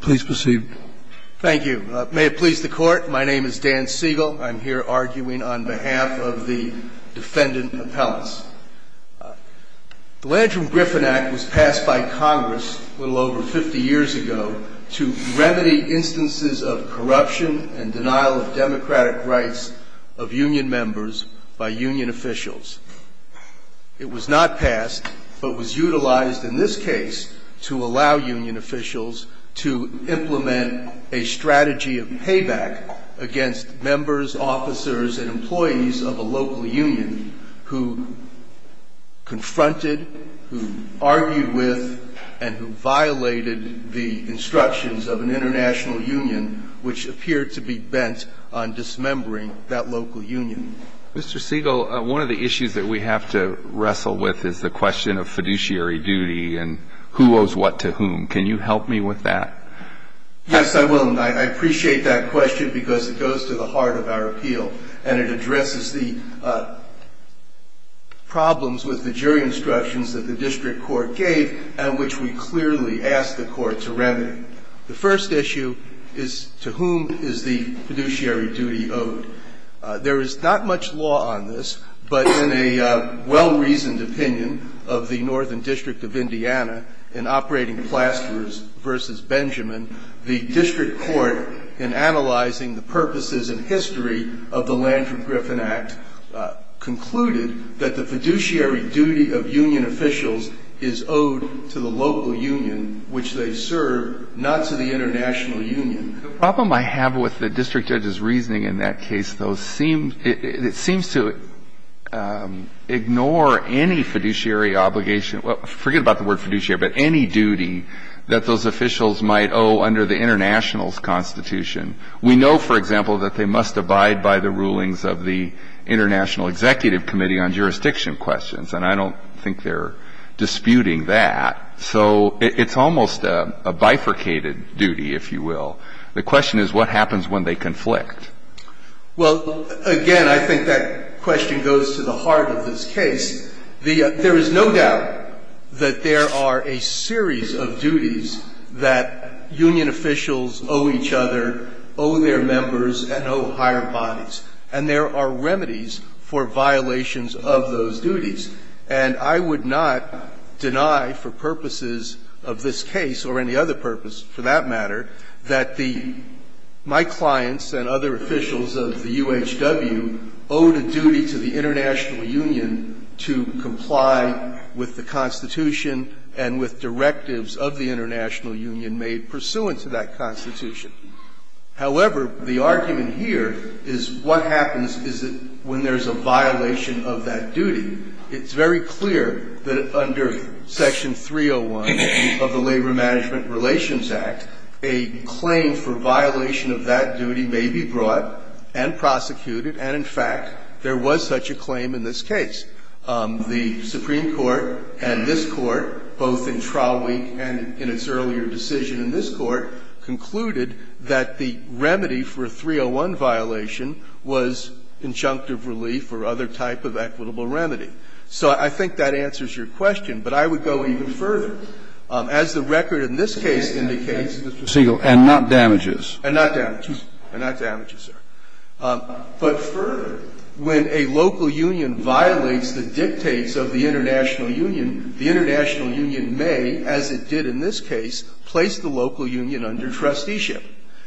Please proceed. Thank you. May it please the court, my name is Dan Siegel. I'm here arguing on behalf of the defendant appellants. The Landrum-Griffin Act was passed by Congress a little over 50 years ago to remedy instances of corruption and denial of democratic rights of union members by union officials. It was not passed, but was utilized in this case to allow union officials to implement a strategy of payback against members, officers, and employees of a local union who confronted, who argued with, and who violated the instructions of an international union which appeared to be bent on dismembering that local union. Mr. Siegel, one of the issues that we have to wrestle with is the question of fiduciary duty and who owes what to whom. Can you help me with that? Yes, I will. And I appreciate that question because it goes to the heart of our appeal and it addresses the problems with the jury instructions that the district court gave and which we clearly asked the court to remedy. The first issue is to whom is the fiduciary duty owed? There is not much law on this, but in a well-reasoned opinion of the Northern District of Indiana in Operating Plasters v. Benjamin, the district court, in analyzing the purposes and history of the Landry-Griffin Act, concluded that the fiduciary duty of union officials is owed to the local union which they serve, not to the international union. The problem I have with the district judge's reasoning in that case, though, seems to ignore any fiduciary obligation, forget about the word fiduciary, but any duty that those officials might owe under the international's constitution. We know, for example, that they must abide by the rulings of the International Executive Committee on Jurisdiction Questions, and I don't think they're disputing that. So it's almost a bifurcated duty, if you will. The question is what happens when they conflict? Well, again, I think that question goes to the heart of this case. There is no doubt that there are a series of duties that union officials owe each other, owe their members, and owe higher bodies. And there are remedies for violations of those duties. And I would not deny for purposes of this case, or any other purpose for that matter, that my clients and other officials of the UHW owe the duty to the international union to comply with the constitution and with directives of the international union made pursuant to that constitution. However, the argument here is what happens is that when there's a violation of that duty, it's very clear that under Section 301 of the Labor Management Relations Act, a claim for violation of that duty may be brought and prosecuted. And in fact, there was such a claim in this case. The Supreme Court and this Court, both in trial week and in its earlier decision in this Court, concluded that the remedy for a 301 violation was injunctive relief or other type of equitable remedy. So I think that answers your question. But I would go even further. As the record in this case indicates, Mr. Singel Breyer, and not damages. And not damages. And not damages, sir. But further, when a local union violates the dictates of the international union, the international union may, as it did in this case, place the local union under trusteeship.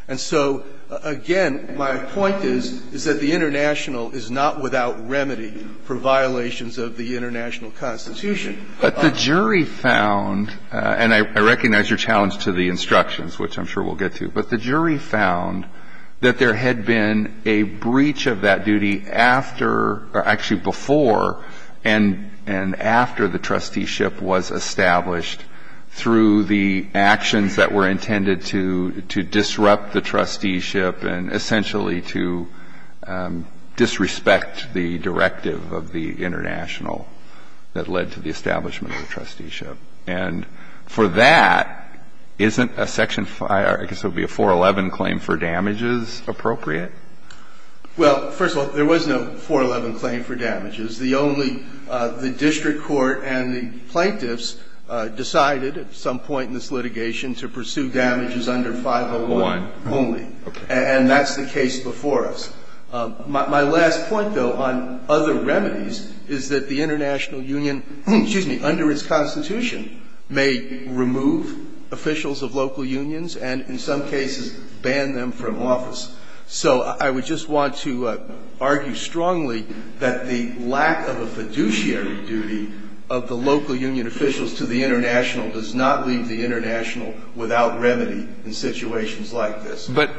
And so, again, my point is, is that the international is not without remedy for violations of the international constitution. But the jury found, and I recognize your challenge to the instructions, which I'm sure we'll get to, but the jury found that there had been a breach of that duty after, or actually before, and after the trusteeship was established through the actions that were intended to disrupt the trusteeship and essentially to disrespect the directive of the international that led to the establishment of the trusteeship. And for that, isn't a section 5 or I guess it would be a 411 claim for damages appropriate? Well, first of all, there was no 411 claim for damages. The only the district court and the plaintiffs decided at some point in this litigation to pursue damages under 501 only. Okay. And that's the case before us. My last point, though, on other remedies is that the international union, excuse me, under its constitution may remove officials of local unions and in some cases ban them from office. So I would just want to argue strongly that the lack of a fiduciary duty of the local union officials to the international does not leave the international without remedy in situations like this. But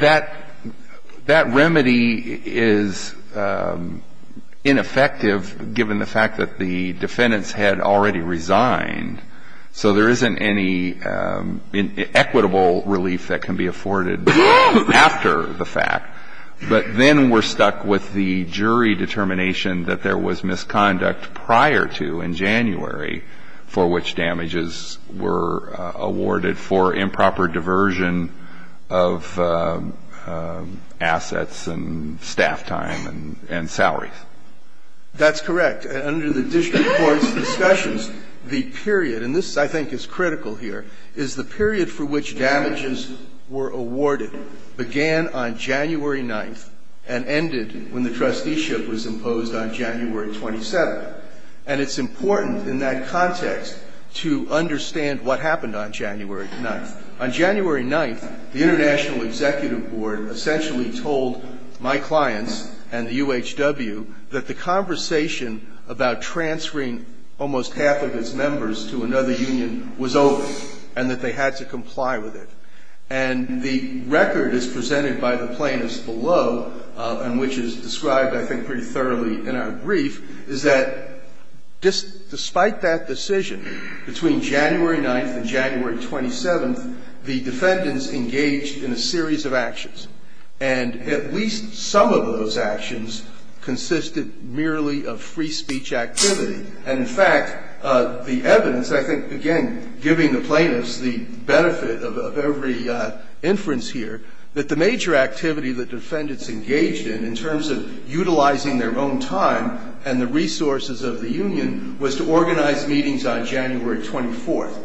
that remedy is ineffective given the fact that the defendants had already resigned. So there isn't any equitable relief that can be afforded after the fact. But then we're stuck with the jury determination that there was misconduct prior to in January for which damages were awarded for improper diversion of assets and staff time and salaries. That's correct. Under the district court's discussions, the period, and this I think is critical here, is the period for which damages were awarded began on January 9th and ended when the trusteeship was imposed on January 27th. And it's important in that context to understand what happened on January 9th. On January 9th, the International Executive Board essentially told my clients and the UHW that the conversation about transferring almost half of its members to another union was over and that they had to comply with it. And the record is presented by the plaintiffs below and which is described, I think, pretty thoroughly in our brief, is that despite that decision, between January 9th and January 27th, the defendants engaged in a series of actions. And at least some of those actions consisted merely of free speech activity. And in fact, the evidence, I think, again, giving the plaintiffs the benefit of every inference here, that the major activity the defendants engaged in, in terms of utilizing their own time and the resources of the union, was to organize meetings on January 24th,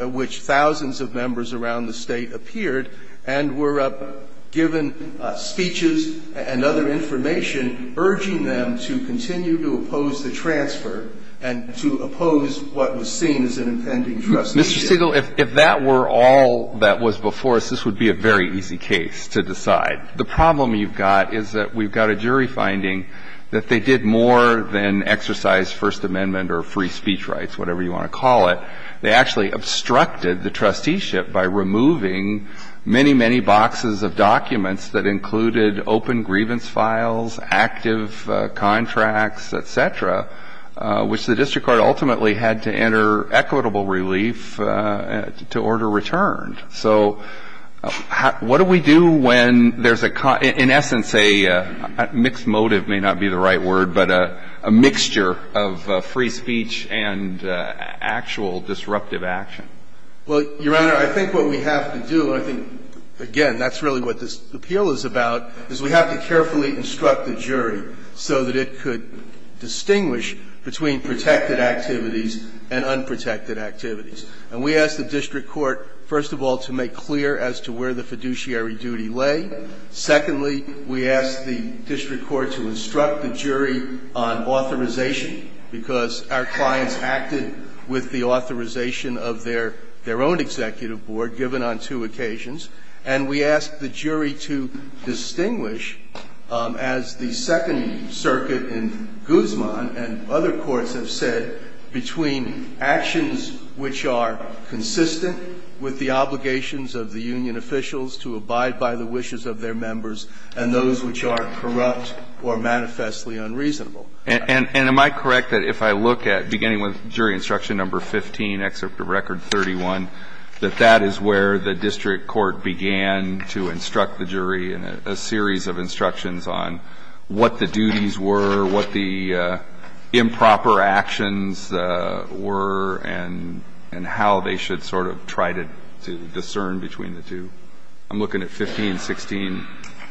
at which thousands of members around the State appeared and were given speeches and other information urging them to continue to oppose the transfer and to oppose what was seen as an impending trustee. Mr. Sigel, if that were all that was before us, this would be a very easy case to decide. The problem you've got is that we've got a jury finding that they did more than exercise First Amendment or free speech rights, whatever you want to call it. They actually obstructed the trusteeship by removing many, many boxes of documents that included open grievance files, active contracts, et cetera, which the district court ultimately had to enter equitable relief to order returned. So what do we do when there's a, in essence, a mixed motive may not be the right word, but a mixture of free speech and actual disruptive action? Well, Your Honor, I think what we have to do, and I think, again, that's really what this appeal is about, is we have to carefully instruct the jury so that it could distinguish between protected activities and unprotected activities. And we ask the district court, first of all, to make clear as to where the fiduciary duty lay. Secondly, we ask the district court to instruct the jury on authorization because our clients acted with the authorization of their own executive board, given on two occasions. And we ask the jury to distinguish, as the Second Circuit in Guzman and other courts have said, between actions which are consistent with the obligations of the union officials to abide by the wishes of their members and those which are corrupt or manifestly unreasonable. And am I correct that if I look at, beginning with Jury Instruction No. 15, Excerpt of Record 31, that that is where the district court began to instruct the jury in a series of instructions on what the duties were, what the improper actions were, and how they should sort of try to discern between the two? I'm looking at 15, 16,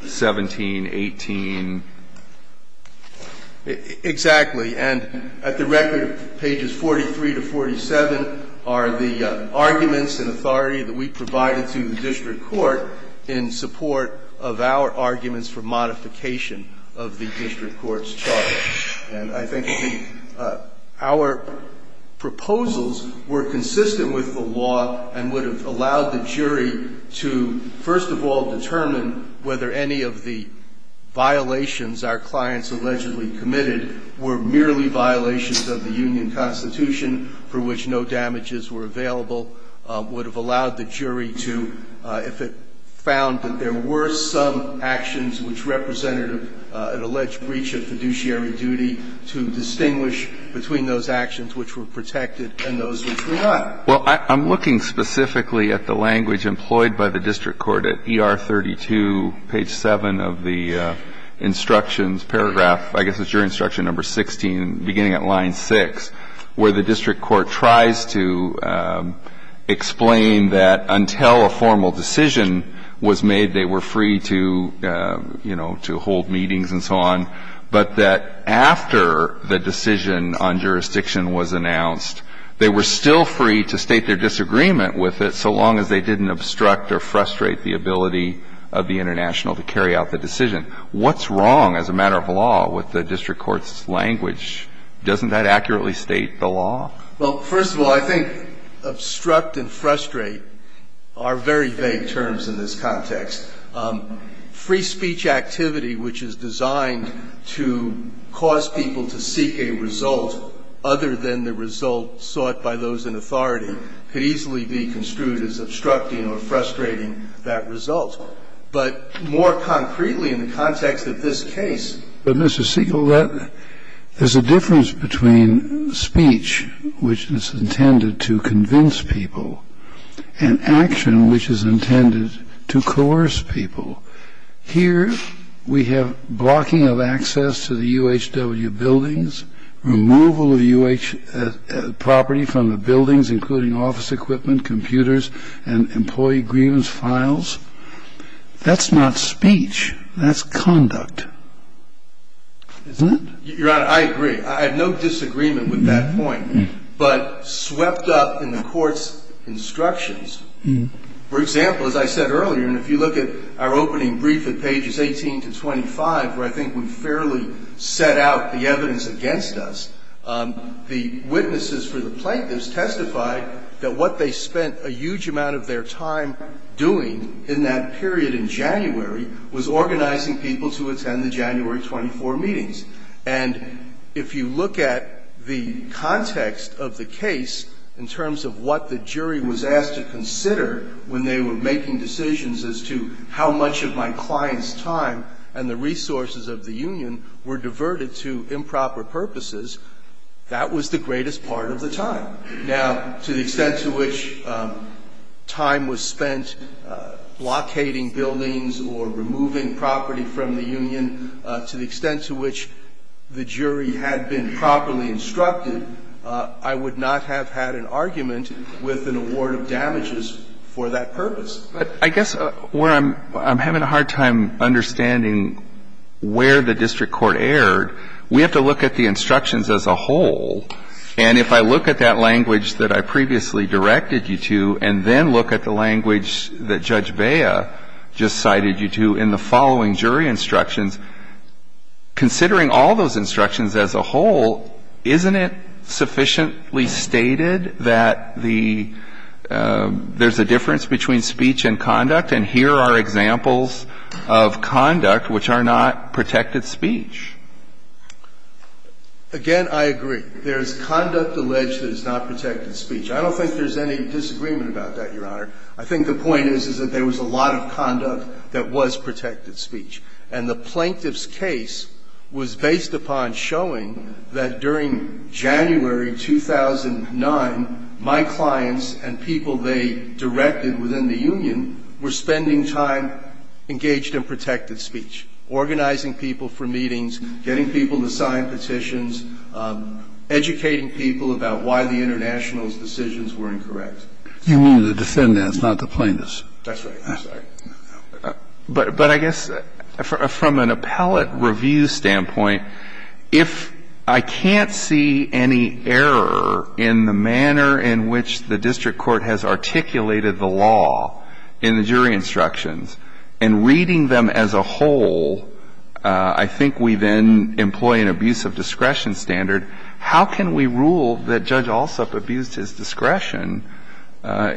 17, 18. Exactly. And at the record, pages 43 to 47 are the arguments and authority that we provided to the district court in support of our arguments for modification of the district court's charge. And I think our proposals were consistent with the law and would have allowed the jury to, first of all, determine whether any of the violations our clients allegedly committed were merely violations of the union constitution for which no damages were available. Would have allowed the jury to, if it found that there were some actions which representative an alleged breach of fiduciary duty, to distinguish between those actions which were protected and those which were not. Well, I'm looking specifically at the language employed by the district court at ER 32, page 7 of the instructions, paragraph, I guess it's Jury Instruction No. 16, beginning at line 6, where the district court tries to explain that until a formal decision was made, they were free to, you know, to hold meetings and so on. But that after the decision on jurisdiction was announced, they were still free to state their disagreement with it so long as they didn't obstruct or frustrate the ability of the international to carry out the decision. What's wrong, as a matter of law, with the district court's language? Doesn't that accurately state the law? Well, first of all, I think obstruct and frustrate are very vague terms in this context. Free speech activity, which is designed to cause people to seek a result other than the result sought by those in authority, could easily be construed as obstructing or frustrating that result. But more concretely in the context of this case, Mr. Siegel, there's a difference between speech, which is intended to convince people, and action, which is intended to coerce people. Here we have blocking of access to the UHW buildings, removal of UH property from the buildings, including office equipment, computers, and employee grievance files. That's not speech. That's conduct. Isn't it? Your Honor, I agree. I have no disagreement with that point. But swept up in the court's instructions, for example, as I said earlier, and if you look at our opening brief at pages 18 to 25, where I think we fairly set out the evidence against us, the witnesses for the plaintiffs testified that what they spent a huge amount of their time doing in that period in January was organizing people to attend the January 24 meetings. And if you look at the context of the case in terms of what the jury was asked to consider when they were making decisions as to how much of my client's time and the resources of the union were diverted to improper purposes, that was the greatest part of the time. Now, to the extent to which time was spent blockading buildings or removing property from the union, to the extent to which the jury had been properly instructed, I would not have had an argument with an award of damages for that purpose. But I guess where I'm having a hard time understanding where the district court erred, we have to look at the instructions as a whole. And if I look at that language that I previously directed you to and then look at the language that Judge Bea just cited you to in the following jury instructions, considering all those instructions as a whole, isn't it sufficiently stated that the – there's a difference between speech and conduct? And here are examples of conduct which are not protected speech. Again, I agree. There is conduct alleged that is not protected speech. I don't think there's any disagreement about that, Your Honor. I think the point is, is that there was a lot of conduct that was protected speech. And the plaintiff's case was based upon showing that during January 2009, my clients were not allowed to speak. I don't think there's any disagreement about that. I think the point is, is that there was a lot of conduct that was protected speech, organizing people for meetings, getting people to sign petitions, educating people about why the international's decisions were incorrect. You mean the defendants, not the plaintiffs. But I guess from an appellate review standpoint, if I can't see any error in the manner in which the district court has articulated the law in the jury instructions and reading them as a whole, I think we then employ an abuse of discretion standard. How can we rule that Judge Alsup abused his discretion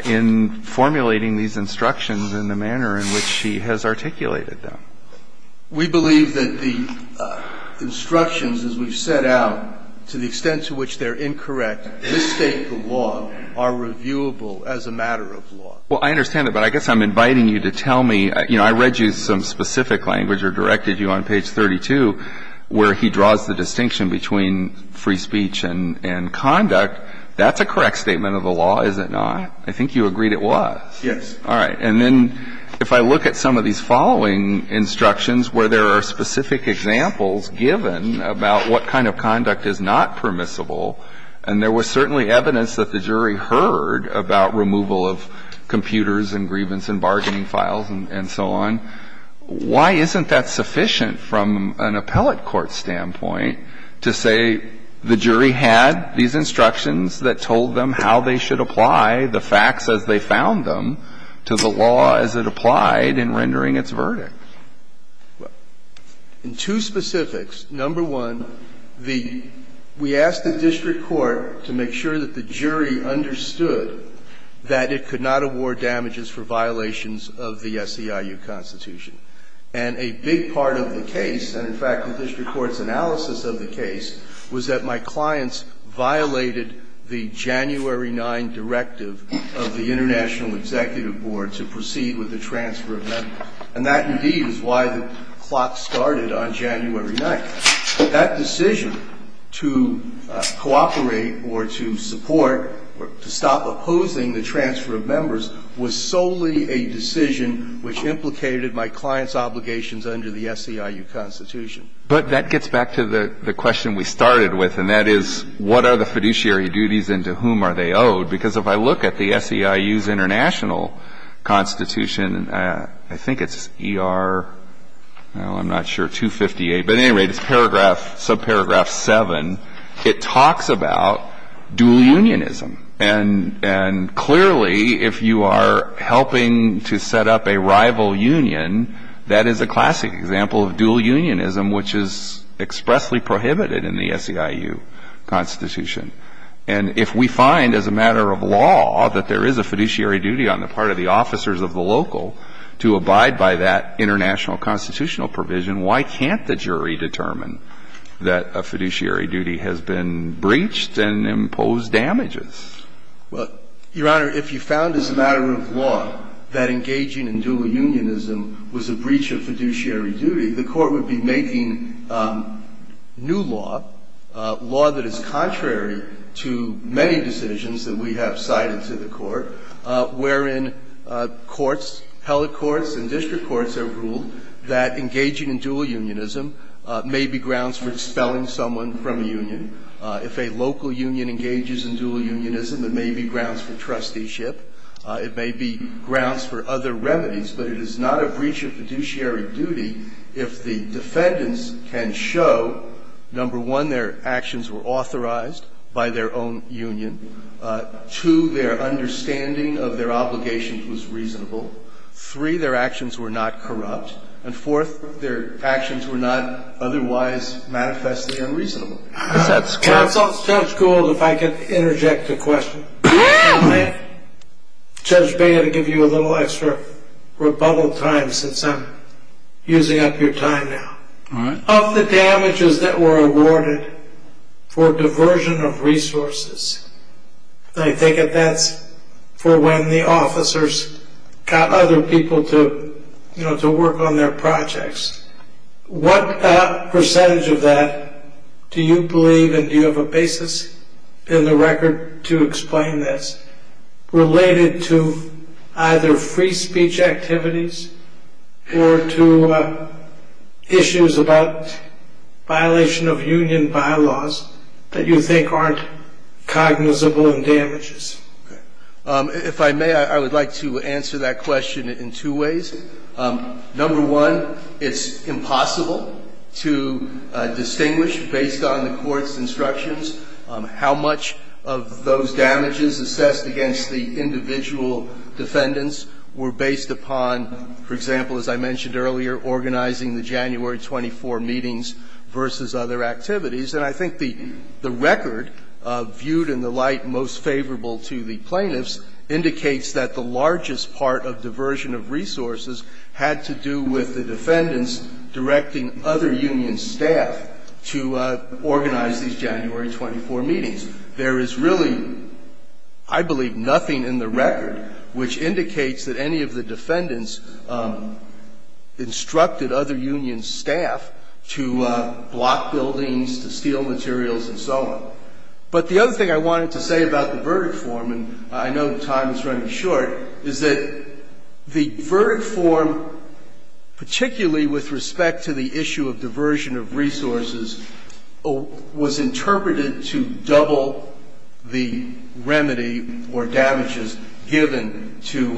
in formulating these instructions in the manner in which he has articulated them? We believe that the instructions, as we've set out, to the extent to which they're incorrect, misstate the law, are reviewable as a matter of law. Well, I understand that, but I guess I'm inviting you to tell me. You know, I read you some specific language or directed you on page 32 where he draws the distinction between free speech and conduct. That's a correct statement of the law, is it not? I think you agreed it was. All right. And then if I look at some of these following instructions where there are specific examples given about what kind of conduct is not permissible, and there was certainly evidence that the jury heard about removal of computers and grievance and bargaining files and so on, why isn't that sufficient from an appellate court standpoint to say the jury had these instructions that told them how they should apply the facts as they found them to the law as it applied in rendering its verdict? In two specifics, number one, the – we asked the district court to make sure that the jury understood that it could not award damages for violations of the SEIU constitution. And a big part of the case, and in fact the district court's analysis of the case, was that my clients violated the January 9 directive of the International Executive Board to proceed with the transfer of members. And that, indeed, is why the clock started on January 9th. That decision to cooperate or to support or to stop opposing the transfer of members was solely a decision which implicated my clients' obligations under the SEIU constitution. But that gets back to the question we started with, and that is, what are the fiduciary duties and to whom are they owed? Because if I look at the SEIU's international constitution, I think it's ER, well, I'm not sure, 258, but at any rate, it's paragraph, subparagraph 7. It talks about dual unionism. And clearly, if you are helping to set up a rival union, that is a classic example of dual unionism, which is expressly prohibited in the SEIU constitution. And if we find as a matter of law that there is a fiduciary duty on the part of the officers of the local to abide by that international constitutional provision, why can't the jury determine that a fiduciary duty has been breached and imposed damages? Well, Your Honor, if you found as a matter of law that engaging in dual unionism was a breach of fiduciary duty, the Court would be making new law, law that is contrary to many decisions that we have cited to the Court, wherein courts, held courts and district courts have ruled that engaging in dual unionism may be grounds for dispelling someone from a union. If a local union engages in dual unionism, it may be grounds for trusteeship. It may be grounds for other remedies. But it is not a breach of fiduciary duty if the defendants can show, number one, their actions were authorized by their own union. Two, their understanding of their obligations was reasonable. Three, their actions were not corrupt. And fourth, their actions were not otherwise manifestly unreasonable. Counsel, Judge Gould, if I could interject a question. Judge Bea, to give you a little extra rebuttal time since I'm using up your time now. All right. Of the damages that were awarded for diversion of resources, I think that that's for when the officers got other people to work on their projects. What percentage of that do you believe, and do you have a basis in the record to explain this, related to either free speech activities or to issues about violation of union bylaws that you think aren't cognizable in damages? If I may, I would like to answer that question in two ways. Number one, it's impossible to distinguish based on the court's instructions how much of those damages assessed against the individual defendants were based upon, for example, as I mentioned earlier, organizing the January 24 meetings versus other activities. And I think the record, viewed in the light most favorable to the plaintiffs, indicates that the largest part of diversion of resources had to do with the defendants directing other union staff to organize these January 24 meetings. There is really, I believe, nothing in the record which indicates that any of the materials and so on. But the other thing I wanted to say about the verdict form, and I know time is running short, is that the verdict form, particularly with respect to the issue of diversion of resources, was interpreted to double the remedy or damages given to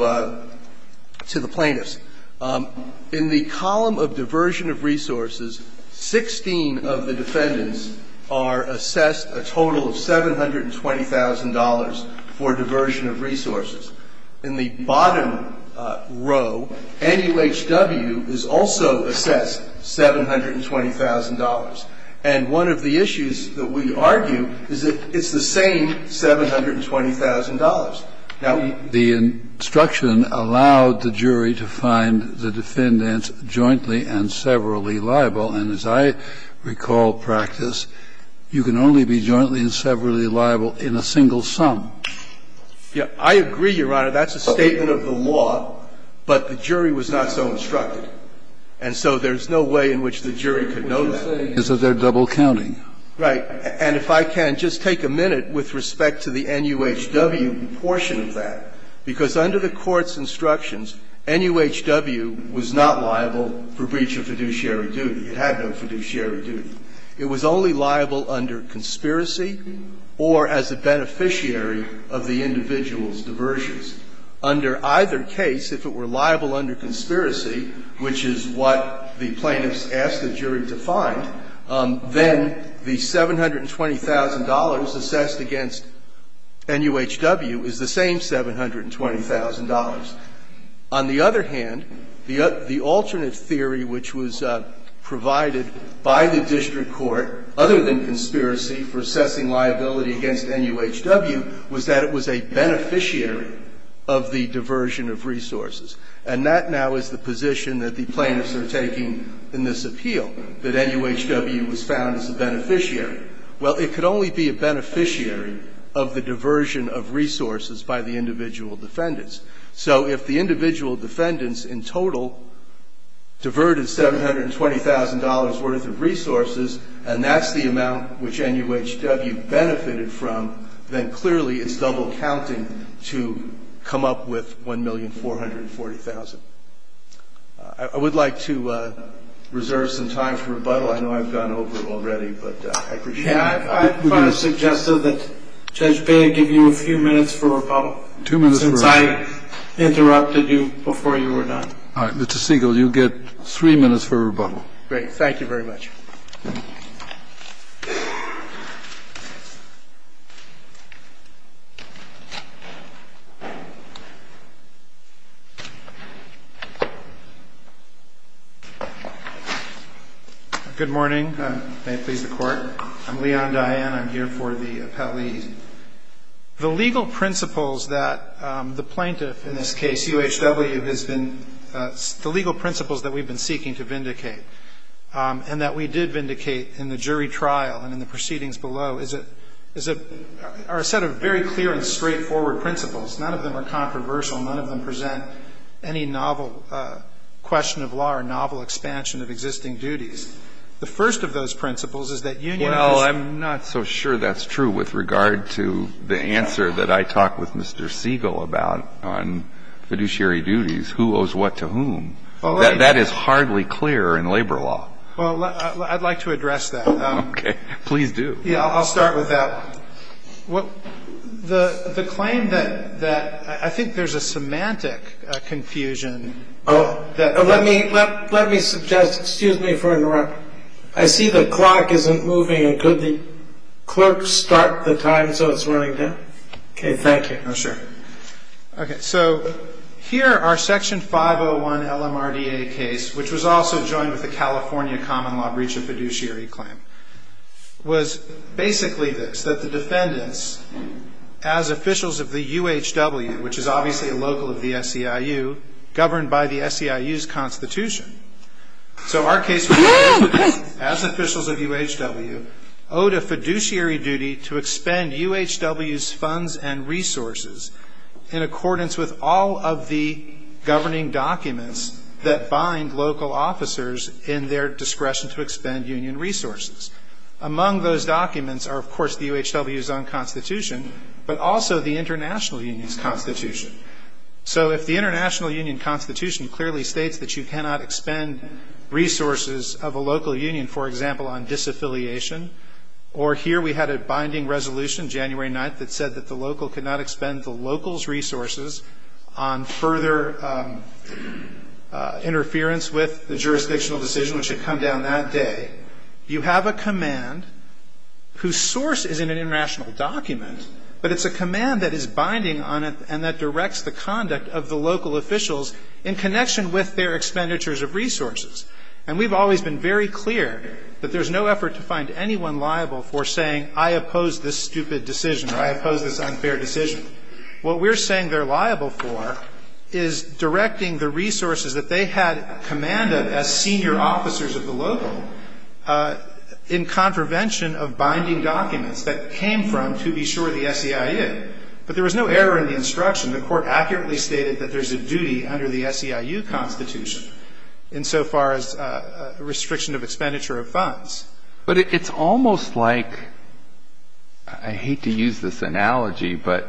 the plaintiffs. In the column of diversion of resources, 16 of the defendants are assessed a total of $720,000 for diversion of resources. In the bottom row, NUHW is also assessed $720,000. And one of the issues that we argue is that it's the same $720,000. Now, the instruction allowed the jury to find the defendants jointly and severally liable, and as I recall practice, you can only be jointly and severally liable in a single sum. Yeah. I agree, Your Honor. That's a statement of the law, but the jury was not so instructed. And so there's no way in which the jury could know that. What you're saying is that they're double counting. Right. And if I can just take a minute with respect to the NUHW portion of that. Because under the Court's instructions, NUHW was not liable for breach of fiduciary duty. It had no fiduciary duty. It was only liable under conspiracy or as a beneficiary of the individual's diversions. Under either case, if it were liable under conspiracy, which is what the plaintiffs asked the jury to find, then the $720,000 assessed against NUHW is the same $720,000. On the other hand, the alternate theory which was provided by the district court, other than conspiracy for assessing liability against NUHW, was that it was a beneficiary of the diversion of resources. And that now is the position that the plaintiffs are taking in this appeal, that NUHW was found as a beneficiary. Well, it could only be a beneficiary of the diversion of resources by the individual defendants. So if the individual defendants in total diverted $720,000 worth of resources and that's the amount which NUHW benefited from, then clearly it's double counting the $720,000. So I would like to reserve some time for rebuttal. I know I've gone over it already, but I appreciate it. Yeah, I kind of suggested that Judge Baird give you a few minutes for rebuttal. Two minutes for rebuttal. Since I interrupted you before you were done. All right. Mr. Siegel, you get three minutes for rebuttal. Great. Thank you very much. Good morning. May it please the Court. I'm Leon Diane. I'm here for the appellee. The legal principles that the plaintiff, in this case, NUHW, has been the legal principles that we've been seeking to vindicate and that we did vindicate in the jury trial and in the proceedings below are a set of very clear and straightforward principles. None of them are controversial. None of them present any novel question of law or novel expansion of existing duties. The first of those principles is that union has Well, I'm not so sure that's true with regard to the answer that I talked with Mr. Siegel about on fiduciary duties, who owes what to whom. That is hardly clear in labor law. Well, I'd like to address that. Okay. Please do. Yeah, I'll start with that. The claim that I think there's a semantic confusion. Oh, let me suggest, excuse me for interrupting. I see the clock isn't moving, and could the clerk start the time so it's running down? Okay, thank you. Oh, sure. Okay, so here our Section 501 LMRDA case, which was also joined with the California common law breach of fiduciary claim, was basically this, that the defendants, as officials of the UHW, which is obviously a local of the SEIU, governed by the SEIU's constitution. So our case, as officials of UHW, owed a fiduciary duty to expend UHW's funds and resources in accordance with all of the governing documents that bind local officers in their discretion to expend union resources. Among those documents are, of course, the UHW's own constitution, but also the international union's constitution. So if the international union constitution clearly states that you cannot expend resources of a local union, for example, on disaffiliation, or here we had a binding resolution January 9th that said that the local could not expend the local's resources on further interference with the jurisdictional decision, which had a command whose source is in an international document, but it's a command that is binding on it and that directs the conduct of the local officials in connection with their expenditures of resources. And we've always been very clear that there's no effort to find anyone liable for saying, I oppose this stupid decision, or I oppose this unfair decision. What we're saying they're liable for is directing the resources that they had commanded as senior officers of the local in contravention of binding documents that came from, to be sure, the SEIU. But there was no error in the instruction. The court accurately stated that there's a duty under the SEIU constitution insofar as a restriction of expenditure of funds. But it's almost like, I hate to use this analogy, but,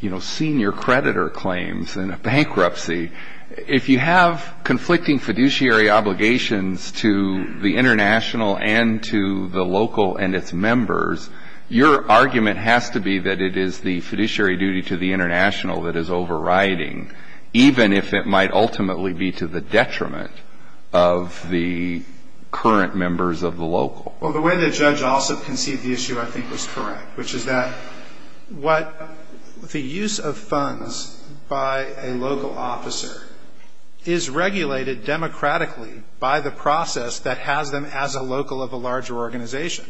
you know, senior creditor claims in a bankruptcy. If you have conflicting fiduciary obligations to the international and to the local and its members, your argument has to be that it is the fiduciary duty to the international that is overriding, even if it might ultimately be to the detriment of the current members of the local. Well, the way the judge also conceived the issue I think was correct, which is that what the use of funds by a local officer is regulated democratically by the process that has them as a local of a larger organization.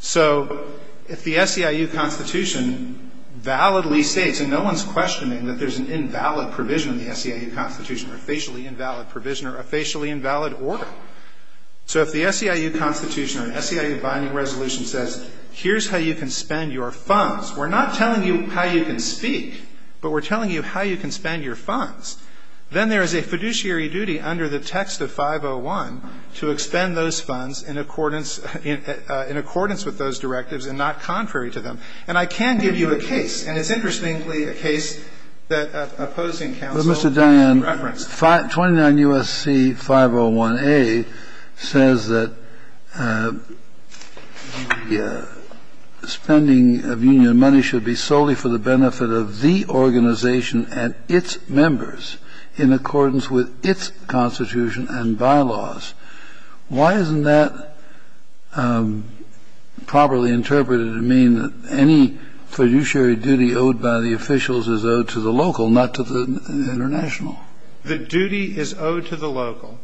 So if the SEIU constitution validly states, and no one's questioning that there's an invalid provision in the SEIU constitution or a facially invalid provision or a facially invalid order. So if the SEIU constitution or an SEIU binding resolution says, here's how you can spend your funds. We're not telling you how you can speak, but we're telling you how you can spend your funds. Then there is a fiduciary duty under the text of 501 to expend those funds in accordance with those directives and not contrary to them. And I can give you a case. And it's interestingly a case that opposing counsel. But Mr. Diane, 29 U.S.C. 501A says that spending of union money should be solely for the benefit of the organization and its members in accordance with its constitution and bylaws. Why isn't that properly interpreted to mean that any fiduciary duty owed by the officials is owed to the local, not to the international? The duty is owed to the local.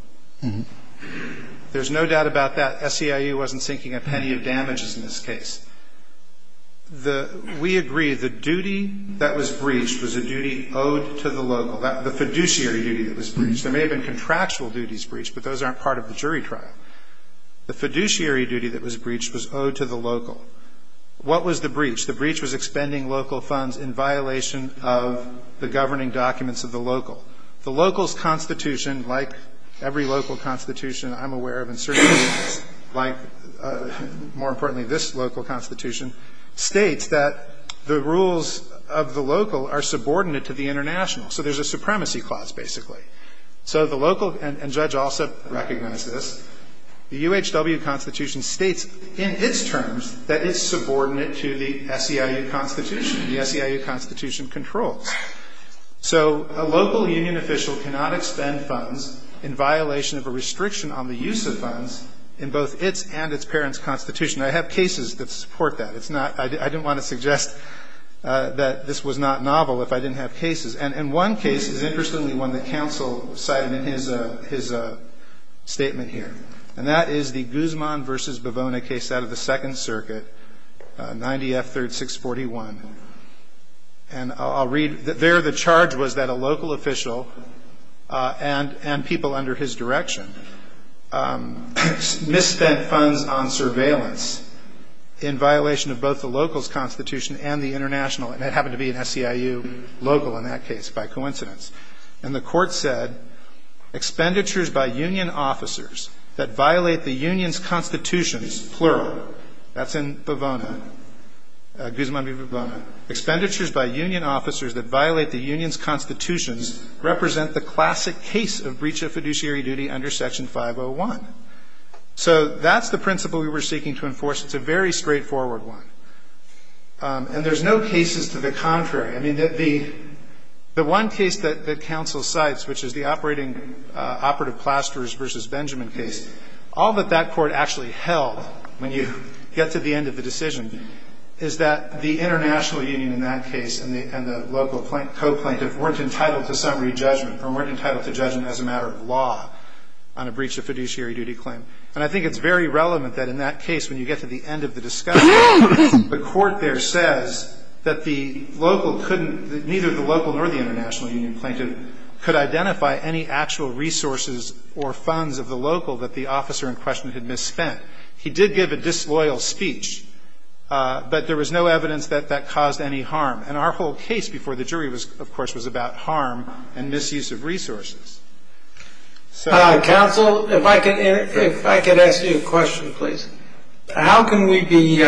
There's no doubt about that. SEIU wasn't sinking a penny of damages in this case. We agree the duty that was breached was a duty owed to the local, the fiduciary duty that was breached. There may have been contractual duties breached, but those aren't part of the jury trial. The fiduciary duty that was breached was owed to the local. What was the breach? The breach was expending local funds in violation of the governing documents of the local. The local's constitution, like every local constitution I'm aware of, and certainly like, more importantly, this local constitution, states that the rules of the local are subordinate to the international. So there's a supremacy clause, basically. So the local, and Judge Alsop recognized this, the UHW Constitution states in its terms that it's subordinate to the SEIU Constitution. The SEIU Constitution controls. So a local union official cannot expend funds in violation of a restriction on the use of funds in both its and its parent's constitution. I have cases that support that. It's not ñ I didn't want to suggest that this was not novel if I didn't have cases. And one case is interestingly one that counsel cited in his statement here, and that is the Guzman v. Bivona case out of the Second Circuit, 90 F. 3rd, 641. And I'll read ñ there the charge was that a local official and people under his direction misspent funds on surveillance in violation of both the local's constitution and the international, and it happened to be an SEIU local in that case by coincidence. And the court said, expenditures by union officers that violate the union's constitutions, plural, that's in Bivona, Guzman v. Bivona, expenditures by union officers that violate the union's constitutions represent the classic case of breach of fiduciary duty under Section 501. So that's the principle we were seeking to enforce. It's a very straightforward one. And there's no cases to the contrary. I mean, the one case that counsel cites, which is the operating ñ operative plasterers v. Benjamin case, all that that court actually held when you get to the end of the decision is that the international union in that case and the local co-plaintiff weren't entitled to summary judgment or weren't entitled to judgment as a matter of law on a breach of fiduciary duty claim. And I think it's very relevant that in that case, when you get to the end of the discussion, the court there says that the local couldn't ñ that neither the local nor the international union plaintiff could identify any actual resources or funds of the local that the officer in question had misspent. He did give a disloyal speech, but there was no evidence that that caused any harm. And our whole case before the jury, of course, was about harm and misuse of resources. Counsel, if I could ask you a question, please. How can we be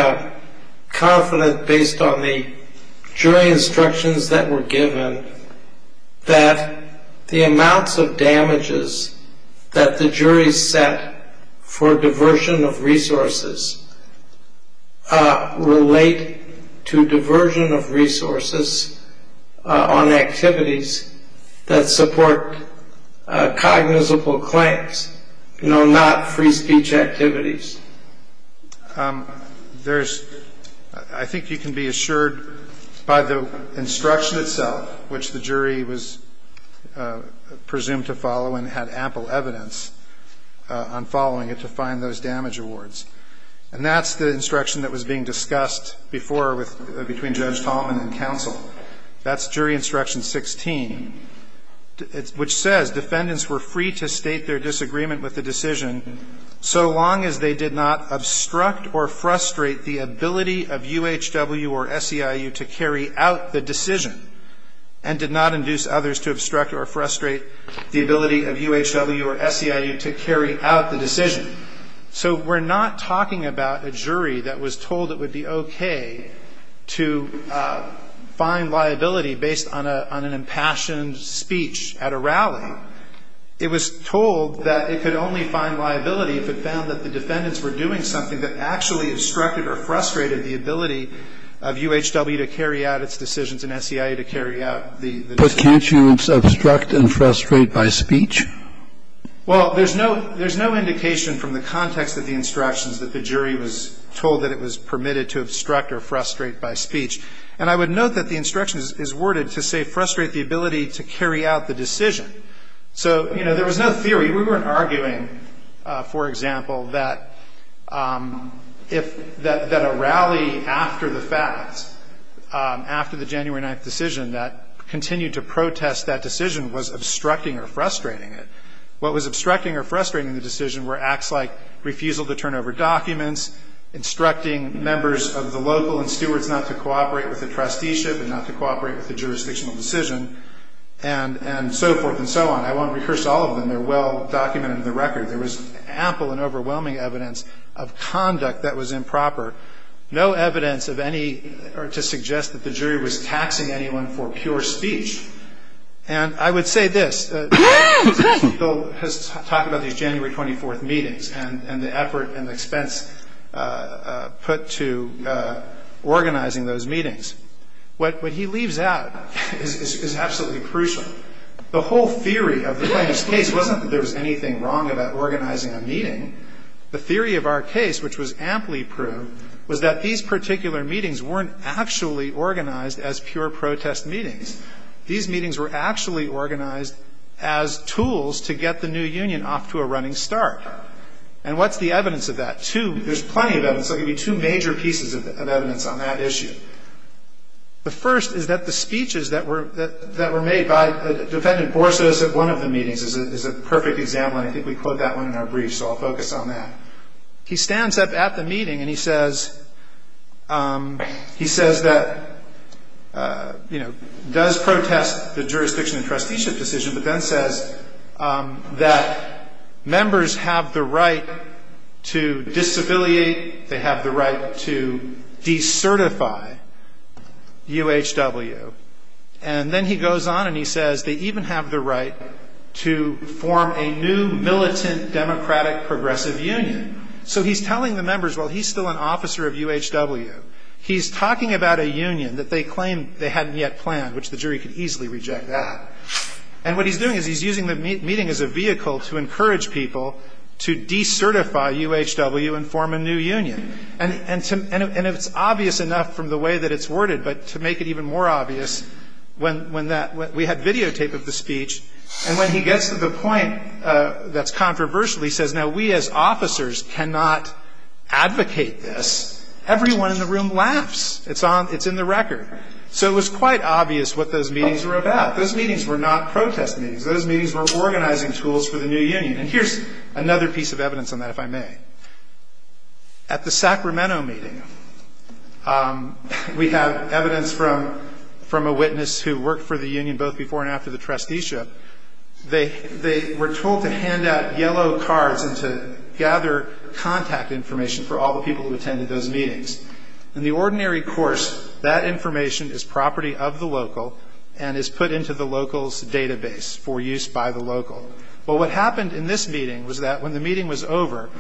confident based on the jury instructions that were given that the amounts of damages that the jury set for diversion of resources relate to diversion of resources on activities that support cognizable claims, you know, not free speech activities? There's ñ I think you can be assured by the instruction itself, which the jury was presumed to follow and had ample evidence on following it to find those damage rewards. And that's the instruction that was being discussed before with ñ between Judge Tallman and counsel. That's jury instruction 16, which says, ìDefendants were free to state their disagreement with the decision so long as they did not obstruct or frustrate the ability of UHW or SEIU to carry out the decision and did not induce others to obstruct or frustrate the ability of UHW or SEIU to carry out the decision.î So you're not talking about a jury that was told it would be okay to find liability based on an impassioned speech at a rally. It was told that it could only find liability if it found that the defendants were doing something that actually obstructed or frustrated the ability of UHW to carry out its decisions and SEIU to carry out the decision. But can't you obstruct and frustrate by speech? Well, there's no ñ there's no indication from the context of the instructions that the jury was told that it was permitted to obstruct or frustrate by speech. And I would note that the instruction is worded to say, ìFrustrate the ability to carry out the decision.î So, you know, there was no theory. We weren't arguing, for example, that if ñ that a rally after the fact, after the January 9th decision that continued to protest that decision was obstructing or frustrating it. What was obstructing or frustrating the decision were acts like refusal to turn over documents, instructing members of the local and stewards not to cooperate with the trusteeship and not to cooperate with the jurisdictional decision, and so forth and so on. I won't rehearse all of them. They're well documented in the record. There was ample and overwhelming evidence of conduct that was improper. No evidence of any ñ or to suggest that the jury was taxing anyone for pure speech. And I would say this. Mr. Steele has talked about these January 24th meetings and the effort and expense put to organizing those meetings. What he leaves out is absolutely crucial. The whole theory of the plaintiffís case wasnít that there was anything wrong about organizing a meeting. The theory of our case, which was amply proved, was that these particular meetings werenít actually organized as pure protest meetings. These meetings were actually organized as tools to get the new union off to a running start. And what's the evidence of that? There's plenty of evidence. I'll give you two major pieces of evidence on that issue. The first is that the speeches that were made by Defendant Borges at one of the meetings is a perfect example, and I think we quote that one in our brief, so I'll focus on that. He stands up at the meeting and he says that, you know, does protest the jurisdiction and trusteeship decision, but then says that members have the right to disaviliate, they have the right to decertify UHW. And then he goes on and he says they even have the right to form a new militant democratic progressive union. So he's telling the members, well, he's still an officer of UHW. He's talking about a union that they claim they hadn't yet planned, which the jury could easily reject that. And what he's doing is he's using the meeting as a vehicle to encourage people to decertify UHW and form a new union. And it's obvious enough from the way that it's worded, but to make it even more obvious, we had videotape of the speech, and when he gets to the point that's controversial, he says, now, we as officers cannot advocate this. Everyone in the room laughs. It's in the record. So it was quite obvious what those meetings were about. Those meetings were not protest meetings. Those meetings were organizing tools for the new union. And here's another piece of evidence on that, if I may. At the Sacramento meeting, we have evidence from a witness who worked for the union both before and after the trusteeship. They were told to hand out yellow cards and to gather contact information for all the people who attended those meetings. In the ordinary course, that information is property of the local and is put into the local's database for use by the local. Well, what happened in this meeting was that when the meeting was over,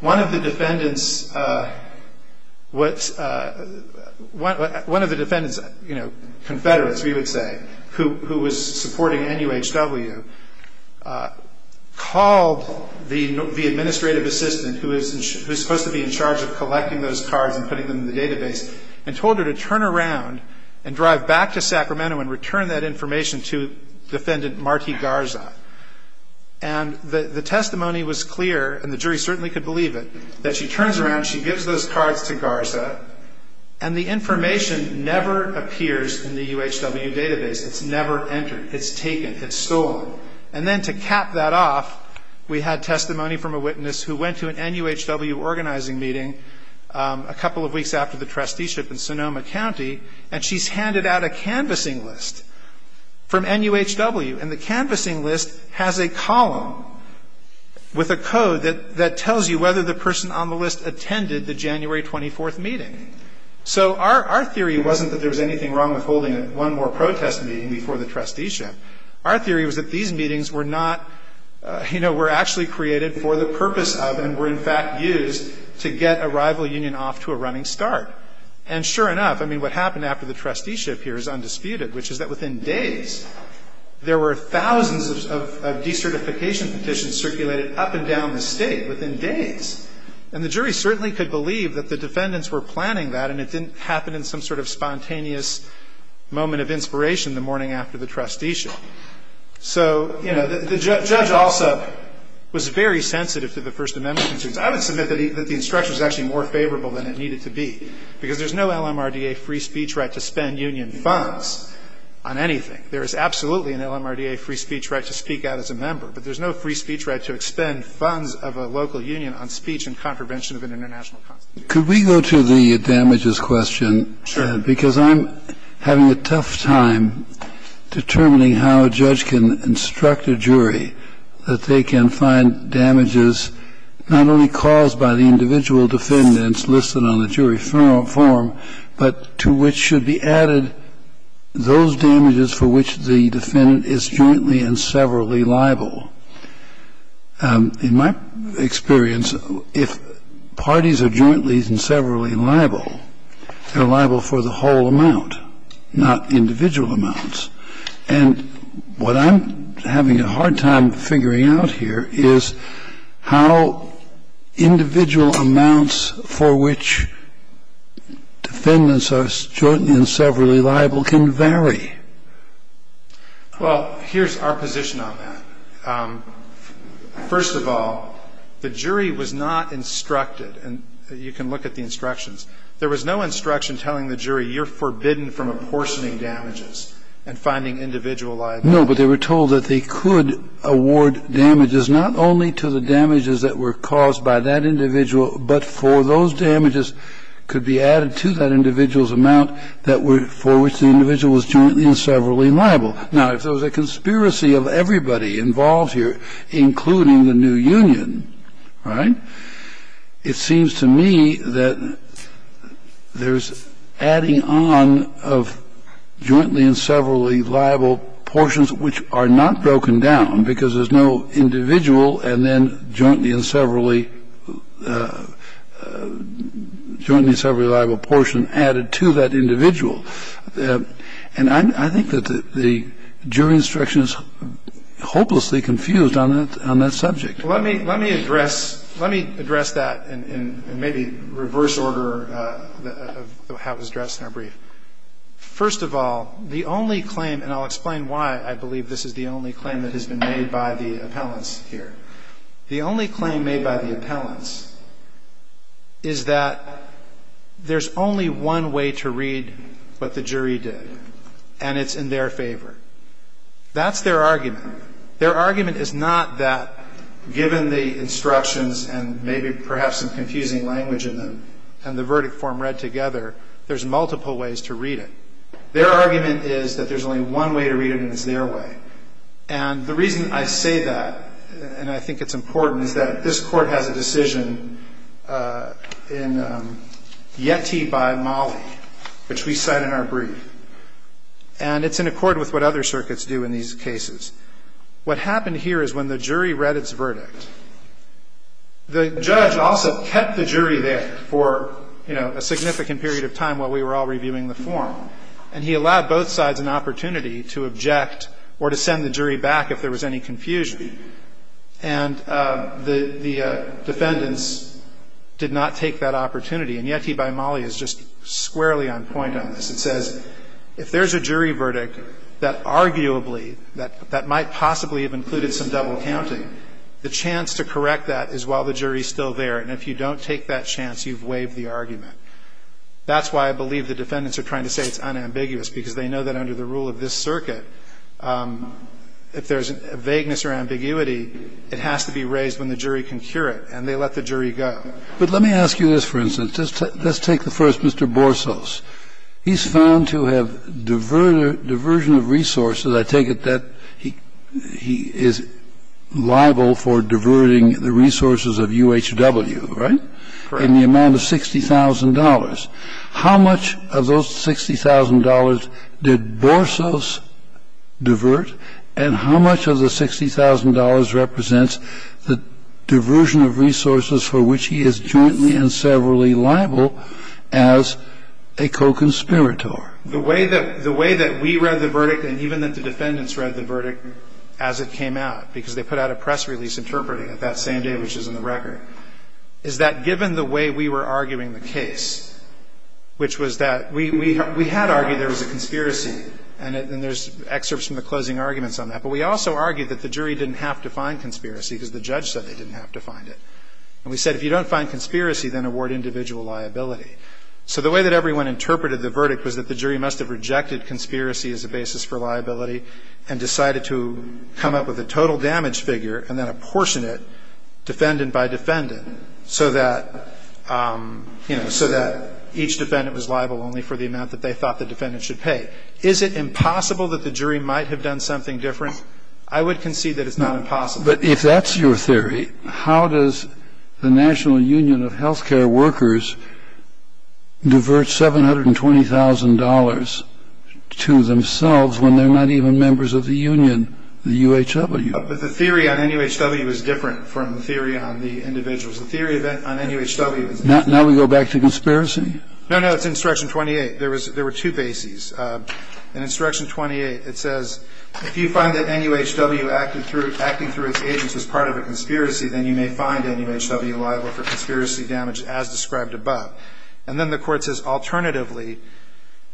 one of the defendants, one of the defendants, you know, confederates, we would say, who was supporting NUHW, called the administrative assistant who is supposed to be in charge of collecting those cards and putting them in the database and told her to turn around and drive back to Sacramento and return that information to defendant Marti Garza. And the testimony was clear, and the jury certainly could believe it, that she turns around, she gives those cards to Garza, and the information never appears in the UHW database. It's never entered. It's taken. It's stolen. And then to cap that off, we had testimony from a witness who went to an NUHW organizing meeting a couple of weeks after the trusteeship in Sonoma County, and she's handed out a canvassing list from NUHW. And the canvassing list has a column with a code that tells you whether the person on the list attended the January 24th meeting. So our theory wasn't that there was anything wrong with holding one more protest meeting before the trusteeship. Our theory was that these meetings were not, you know, were actually created for the purpose of and were, in fact, used to get a rival union off to a running start. And sure enough, I mean, what happened after the trusteeship here is undisputed, which is that within days, there were thousands of decertification petitions circulated up and down the state within days. And the jury certainly could believe that the defendants were planning that, and it didn't happen in some sort of spontaneous moment of inspiration the morning after the trusteeship. So, you know, the judge also was very sensitive to the First Amendment. I would submit that the instruction was actually more favorable than it needed to be, because there's no LMRDA free speech right to spend union funds on anything. There is absolutely an LMRDA free speech right to speak out as a member, but there's no free speech right to expend funds of a local union on speech and contravention of an international constitution. Kennedy. Could we go to the damages question? Because I'm having a tough time determining how a judge can instruct a jury that they can find damages not only caused by the individual defendants listed on the jury form, but to which should be added those damages for which the defendant is jointly and severally liable. In my experience, if parties are jointly and severally liable, they're liable for the whole amount, not individual amounts. And what I'm having a hard time figuring out here is how individual amounts for which defendants are jointly and severally liable can vary. Well, here's our position on that. First of all, the jury was not instructed. And you can look at the instructions. There was no instruction telling the jury, you're forbidden from apportioning damages. And finding individual liable. No, but they were told that they could award damages not only to the damages that were caused by that individual, but for those damages could be added to that individual's amount that were for which the individual was jointly and severally liable. Now, if there was a conspiracy of everybody involved here, including the new union, right, it seems to me that there's adding on of jointly and severally liable portions, which are not broken down, because there's no individual and then jointly and severally liable portion added to that individual. And I think that the jury instruction is hopelessly confused on that subject. Let me address that in maybe reverse order of how it was addressed in our brief. First of all, the only claim, and I'll explain why I believe this is the only claim that has been made by the appellants here. The only claim made by the appellants is that there's only one way to read what the jury did. And it's in their favor. That's their argument. Their argument is not that, given the instructions and maybe perhaps some confusing language in them and the verdict form read together, there's multiple ways to read it. Their argument is that there's only one way to read it, and it's their way. And the reason I say that, and I think it's important, is that this Court has a decision in Yeti by Mollie, which we cite in our brief, and it's in accord with what other circuits do in these cases. What happened here is when the jury read its verdict, the judge also kept the jury there for, you know, a significant period of time while we were all reviewing the form. And he allowed both sides an opportunity to object or to send the jury back if there was any confusion. And the defendants did not take that opportunity. And Yeti by Mollie is just squarely on point on this. It says if there's a jury verdict that arguably, that might possibly have included some double counting, the chance to correct that is while the jury is still there. And if you don't take that chance, you've waived the argument. That's why I believe the defendants are trying to say it's unambiguous, because they know that under the rule of this circuit, if there's a vagueness or ambiguity, it has to be raised when the jury can cure it. And they let the jury go. But let me ask you this, for instance. Let's take the first, Mr. Borsos. He's found to have diversion of resources. I take it that he is liable for diverting the resources of UHW, right? Correct. In the amount of $60,000. How much of those $60,000 did Borsos divert, and how much of the $60,000 represents the diversion of resources for which he is jointly and severally liable as a co-conspirator? The way that we read the verdict, and even that the defendants read the verdict as it came out, because they put out a press release interpreting it that same day, which is in the record, is that given the way we were arguing the case, which was that we had argued there was a conspiracy, and there's excerpts from the closing arguments on that, but we also argued that the jury didn't have to find conspiracy because the judge said they didn't have to find it. And we said if you don't find conspiracy, then award individual liability. So the way that everyone interpreted the verdict was that the jury must have rejected conspiracy as a basis for liability and decided to come up with a total damage figure and then apportion it defendant by defendant so that, you know, so that each defendant was liable only for the amount that they thought the defendant should pay. Now, the question is, is it possible that the jury might have done something different? I would concede that it's not impossible. But if that's your theory, how does the National Union of Healthcare Workers divert $720,000 to themselves when they're not even members of the union, the UHW? But the theory on NUHW is different from the theory on the individuals. The theory on NUHW is different. Now we go back to conspiracy? No, no. It's Instruction 28. There were two bases. In Instruction 28, it says, If you find that NUHW acting through its agents was part of a conspiracy, then you may find NUHW liable for conspiracy damage as described above. And then the Court says, Alternatively,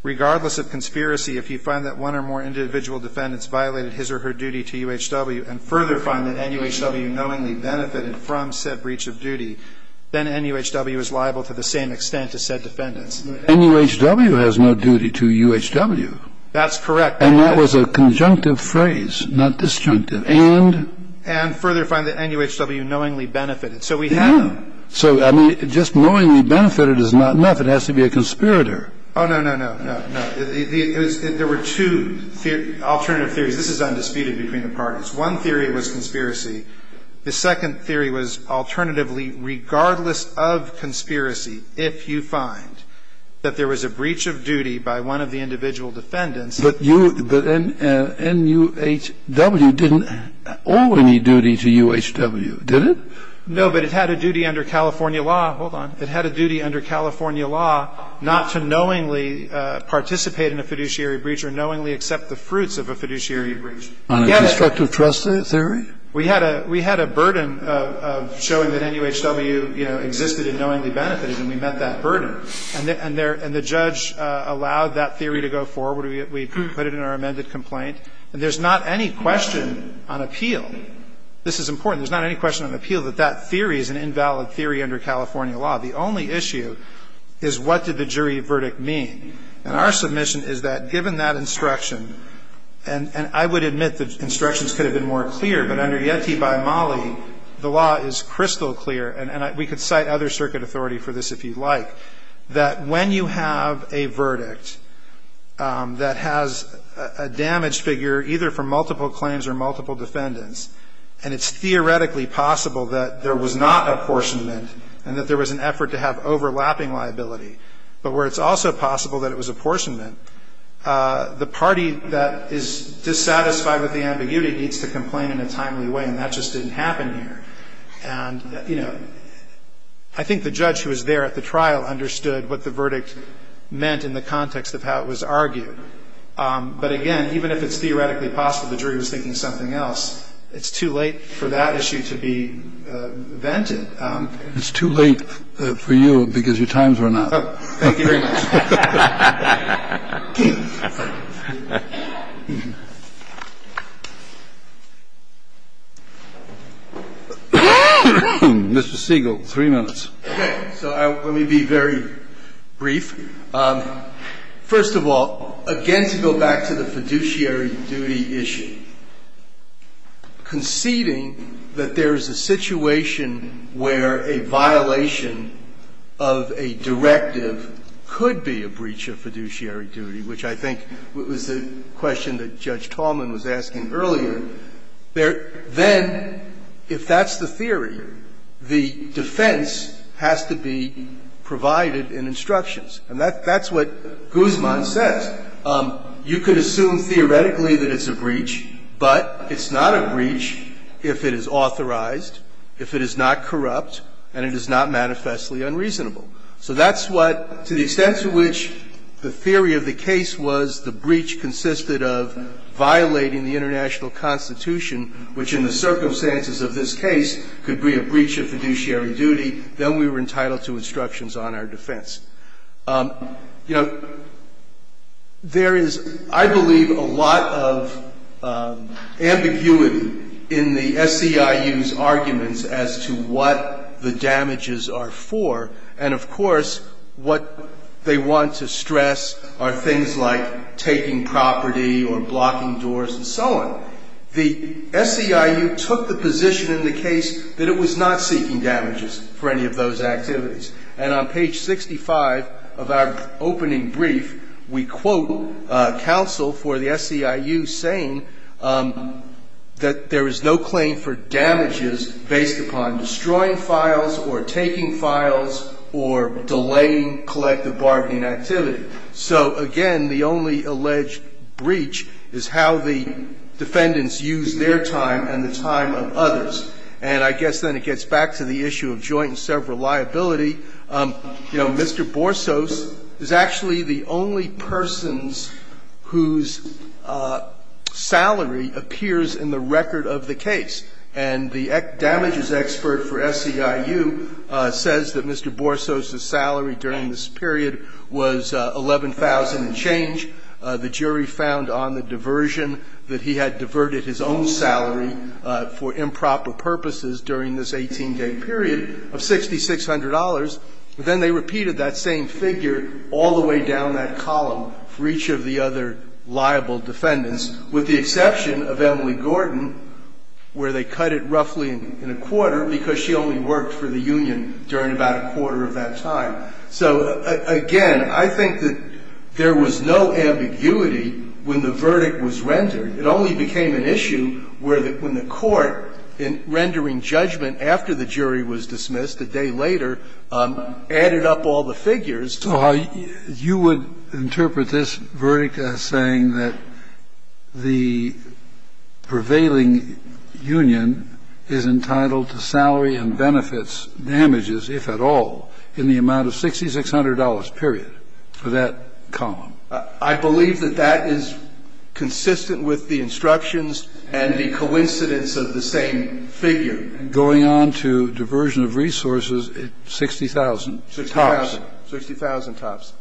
regardless of conspiracy, if you find that one or more individual defendants violated his or her duty to UHW and further find that NUHW knowingly benefited from said breach of duty, then NUHW is liable to the same extent to said defendants. NUHW has no duty to UHW. That's correct. And that was a conjunctive phrase, not disjunctive. And? And further find that NUHW knowingly benefited. So we have them. So, I mean, just knowingly benefited is not enough. It has to be a conspirator. Oh, no, no, no, no, no. There were two alternative theories. This is undisputed between the parties. One theory was conspiracy. The second theory was alternatively regardless of conspiracy, if you find that there was a breach of duty by one of the individual defendants. But you – but NUHW didn't owe any duty to UHW, did it? No, but it had a duty under California law. Hold on. It had a duty under California law not to knowingly participate in a fiduciary breach or knowingly accept the fruits of a fiduciary breach. I get it. On a destructive trust theory? We had a – we had a burden of showing that NUHW, you know, existed and knowingly benefited, and we met that burden. And the judge allowed that theory to go forward. We put it in our amended complaint. And there's not any question on appeal – this is important – there's not any question on appeal that that theory is an invalid theory under California law. The only issue is what did the jury verdict mean. And our submission is that given that instruction – and I would admit that instructions could have been more clear, but under Yeti by Mali, the law is crystal clear, and we could cite other circuit authority for this if you'd like, that when you have a verdict that has a damaged figure, either from multiple claims or multiple defendants, and it's theoretically possible that there was not apportionment and that there was an effort to have overlapping liability, but where it's also possible that it was apportionment, the party that is dissatisfied with the ambiguity needs to complain in a timely way, and that just didn't happen here. And, you know, I think the judge who was there at the trial understood what the verdict meant in the context of how it was argued. But again, even if it's theoretically possible the jury was thinking something else, it's too late for that issue to be vented. It's too late for you because your times are not up. Thank you very much. Mr. Siegel, three minutes. Okay. So let me be very brief. First of all, again, to go back to the fiduciary duty issue, conceding that there is a situation where a violation of a directive could be a breach of fiduciary duty, which I think was the question that Judge Tallman was asking earlier, then if that's the theory, the defense has to be provided in instructions. And that's what Guzman says. You could assume theoretically that it's a breach, but it's not a breach if it is authorized if it is not corrupt and it is not manifestly unreasonable. So that's what, to the extent to which the theory of the case was the breach consisted of violating the international constitution, which in the circumstances of this case could be a breach of fiduciary duty, then we were entitled to instructions on our defense. You know, there is, I believe, a lot of ambiguity in the SEIU's arguments as to what the damages are for. And, of course, what they want to stress are things like taking property or blocking doors and so on. The SEIU took the position in the case that it was not seeking damages for any of those activities. And on page 65 of our opening brief, we quote counsel for the SEIU saying that there is no claim for damages based upon destroying files or taking files or delaying collective bargaining activity. So, again, the only alleged breach is how the defendants used their time and the time of others. And I guess then it gets back to the issue of joint and several liability. You know, Mr. Borsos is actually the only person whose salary appears in the record of the case. And the damages expert for SEIU says that Mr. Borsos' salary during this period was $11,000 and change. The jury found on the diversion that he had diverted his own salary for improper purposes during this 18-day period of $6,600. Then they repeated that same figure all the way down that column for each of the other liable defendants, with the exception of Emily Gordon, where they cut it roughly in a quarter because she only worked for the union during about a quarter of that time. So, again, I think that there was no ambiguity when the verdict was rendered. It only became an issue where the – when the court, in rendering judgment after the jury was dismissed a day later, added up all the figures. So you would interpret this verdict as saying that the prevailing union is entitled to salary and benefits damages, if at all, in the amount of $6,600, period, for that column? I believe that that is consistent with the instructions and the coincidence of the same figure. Going on to diversion of resources at $60,000. $60,000. $60,000 tops.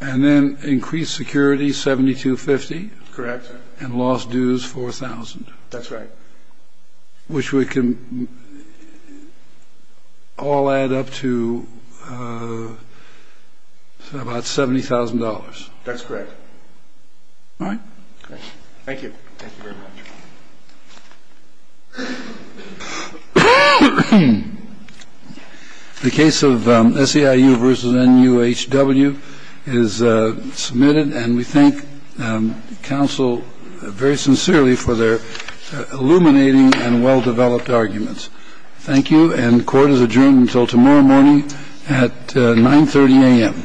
And then increased security, $7,250. Correct. And lost dues, $4,000. That's right. Which we can all add up to about $70,000. That's correct. All right. Thank you. Thank you very much. The case of SEIU v. NUHW is submitted. And we thank counsel very sincerely for their illuminating and well-developed arguments. Thank you. And court is adjourned until tomorrow morning at 9.30 a.m. Thank you. Thank you.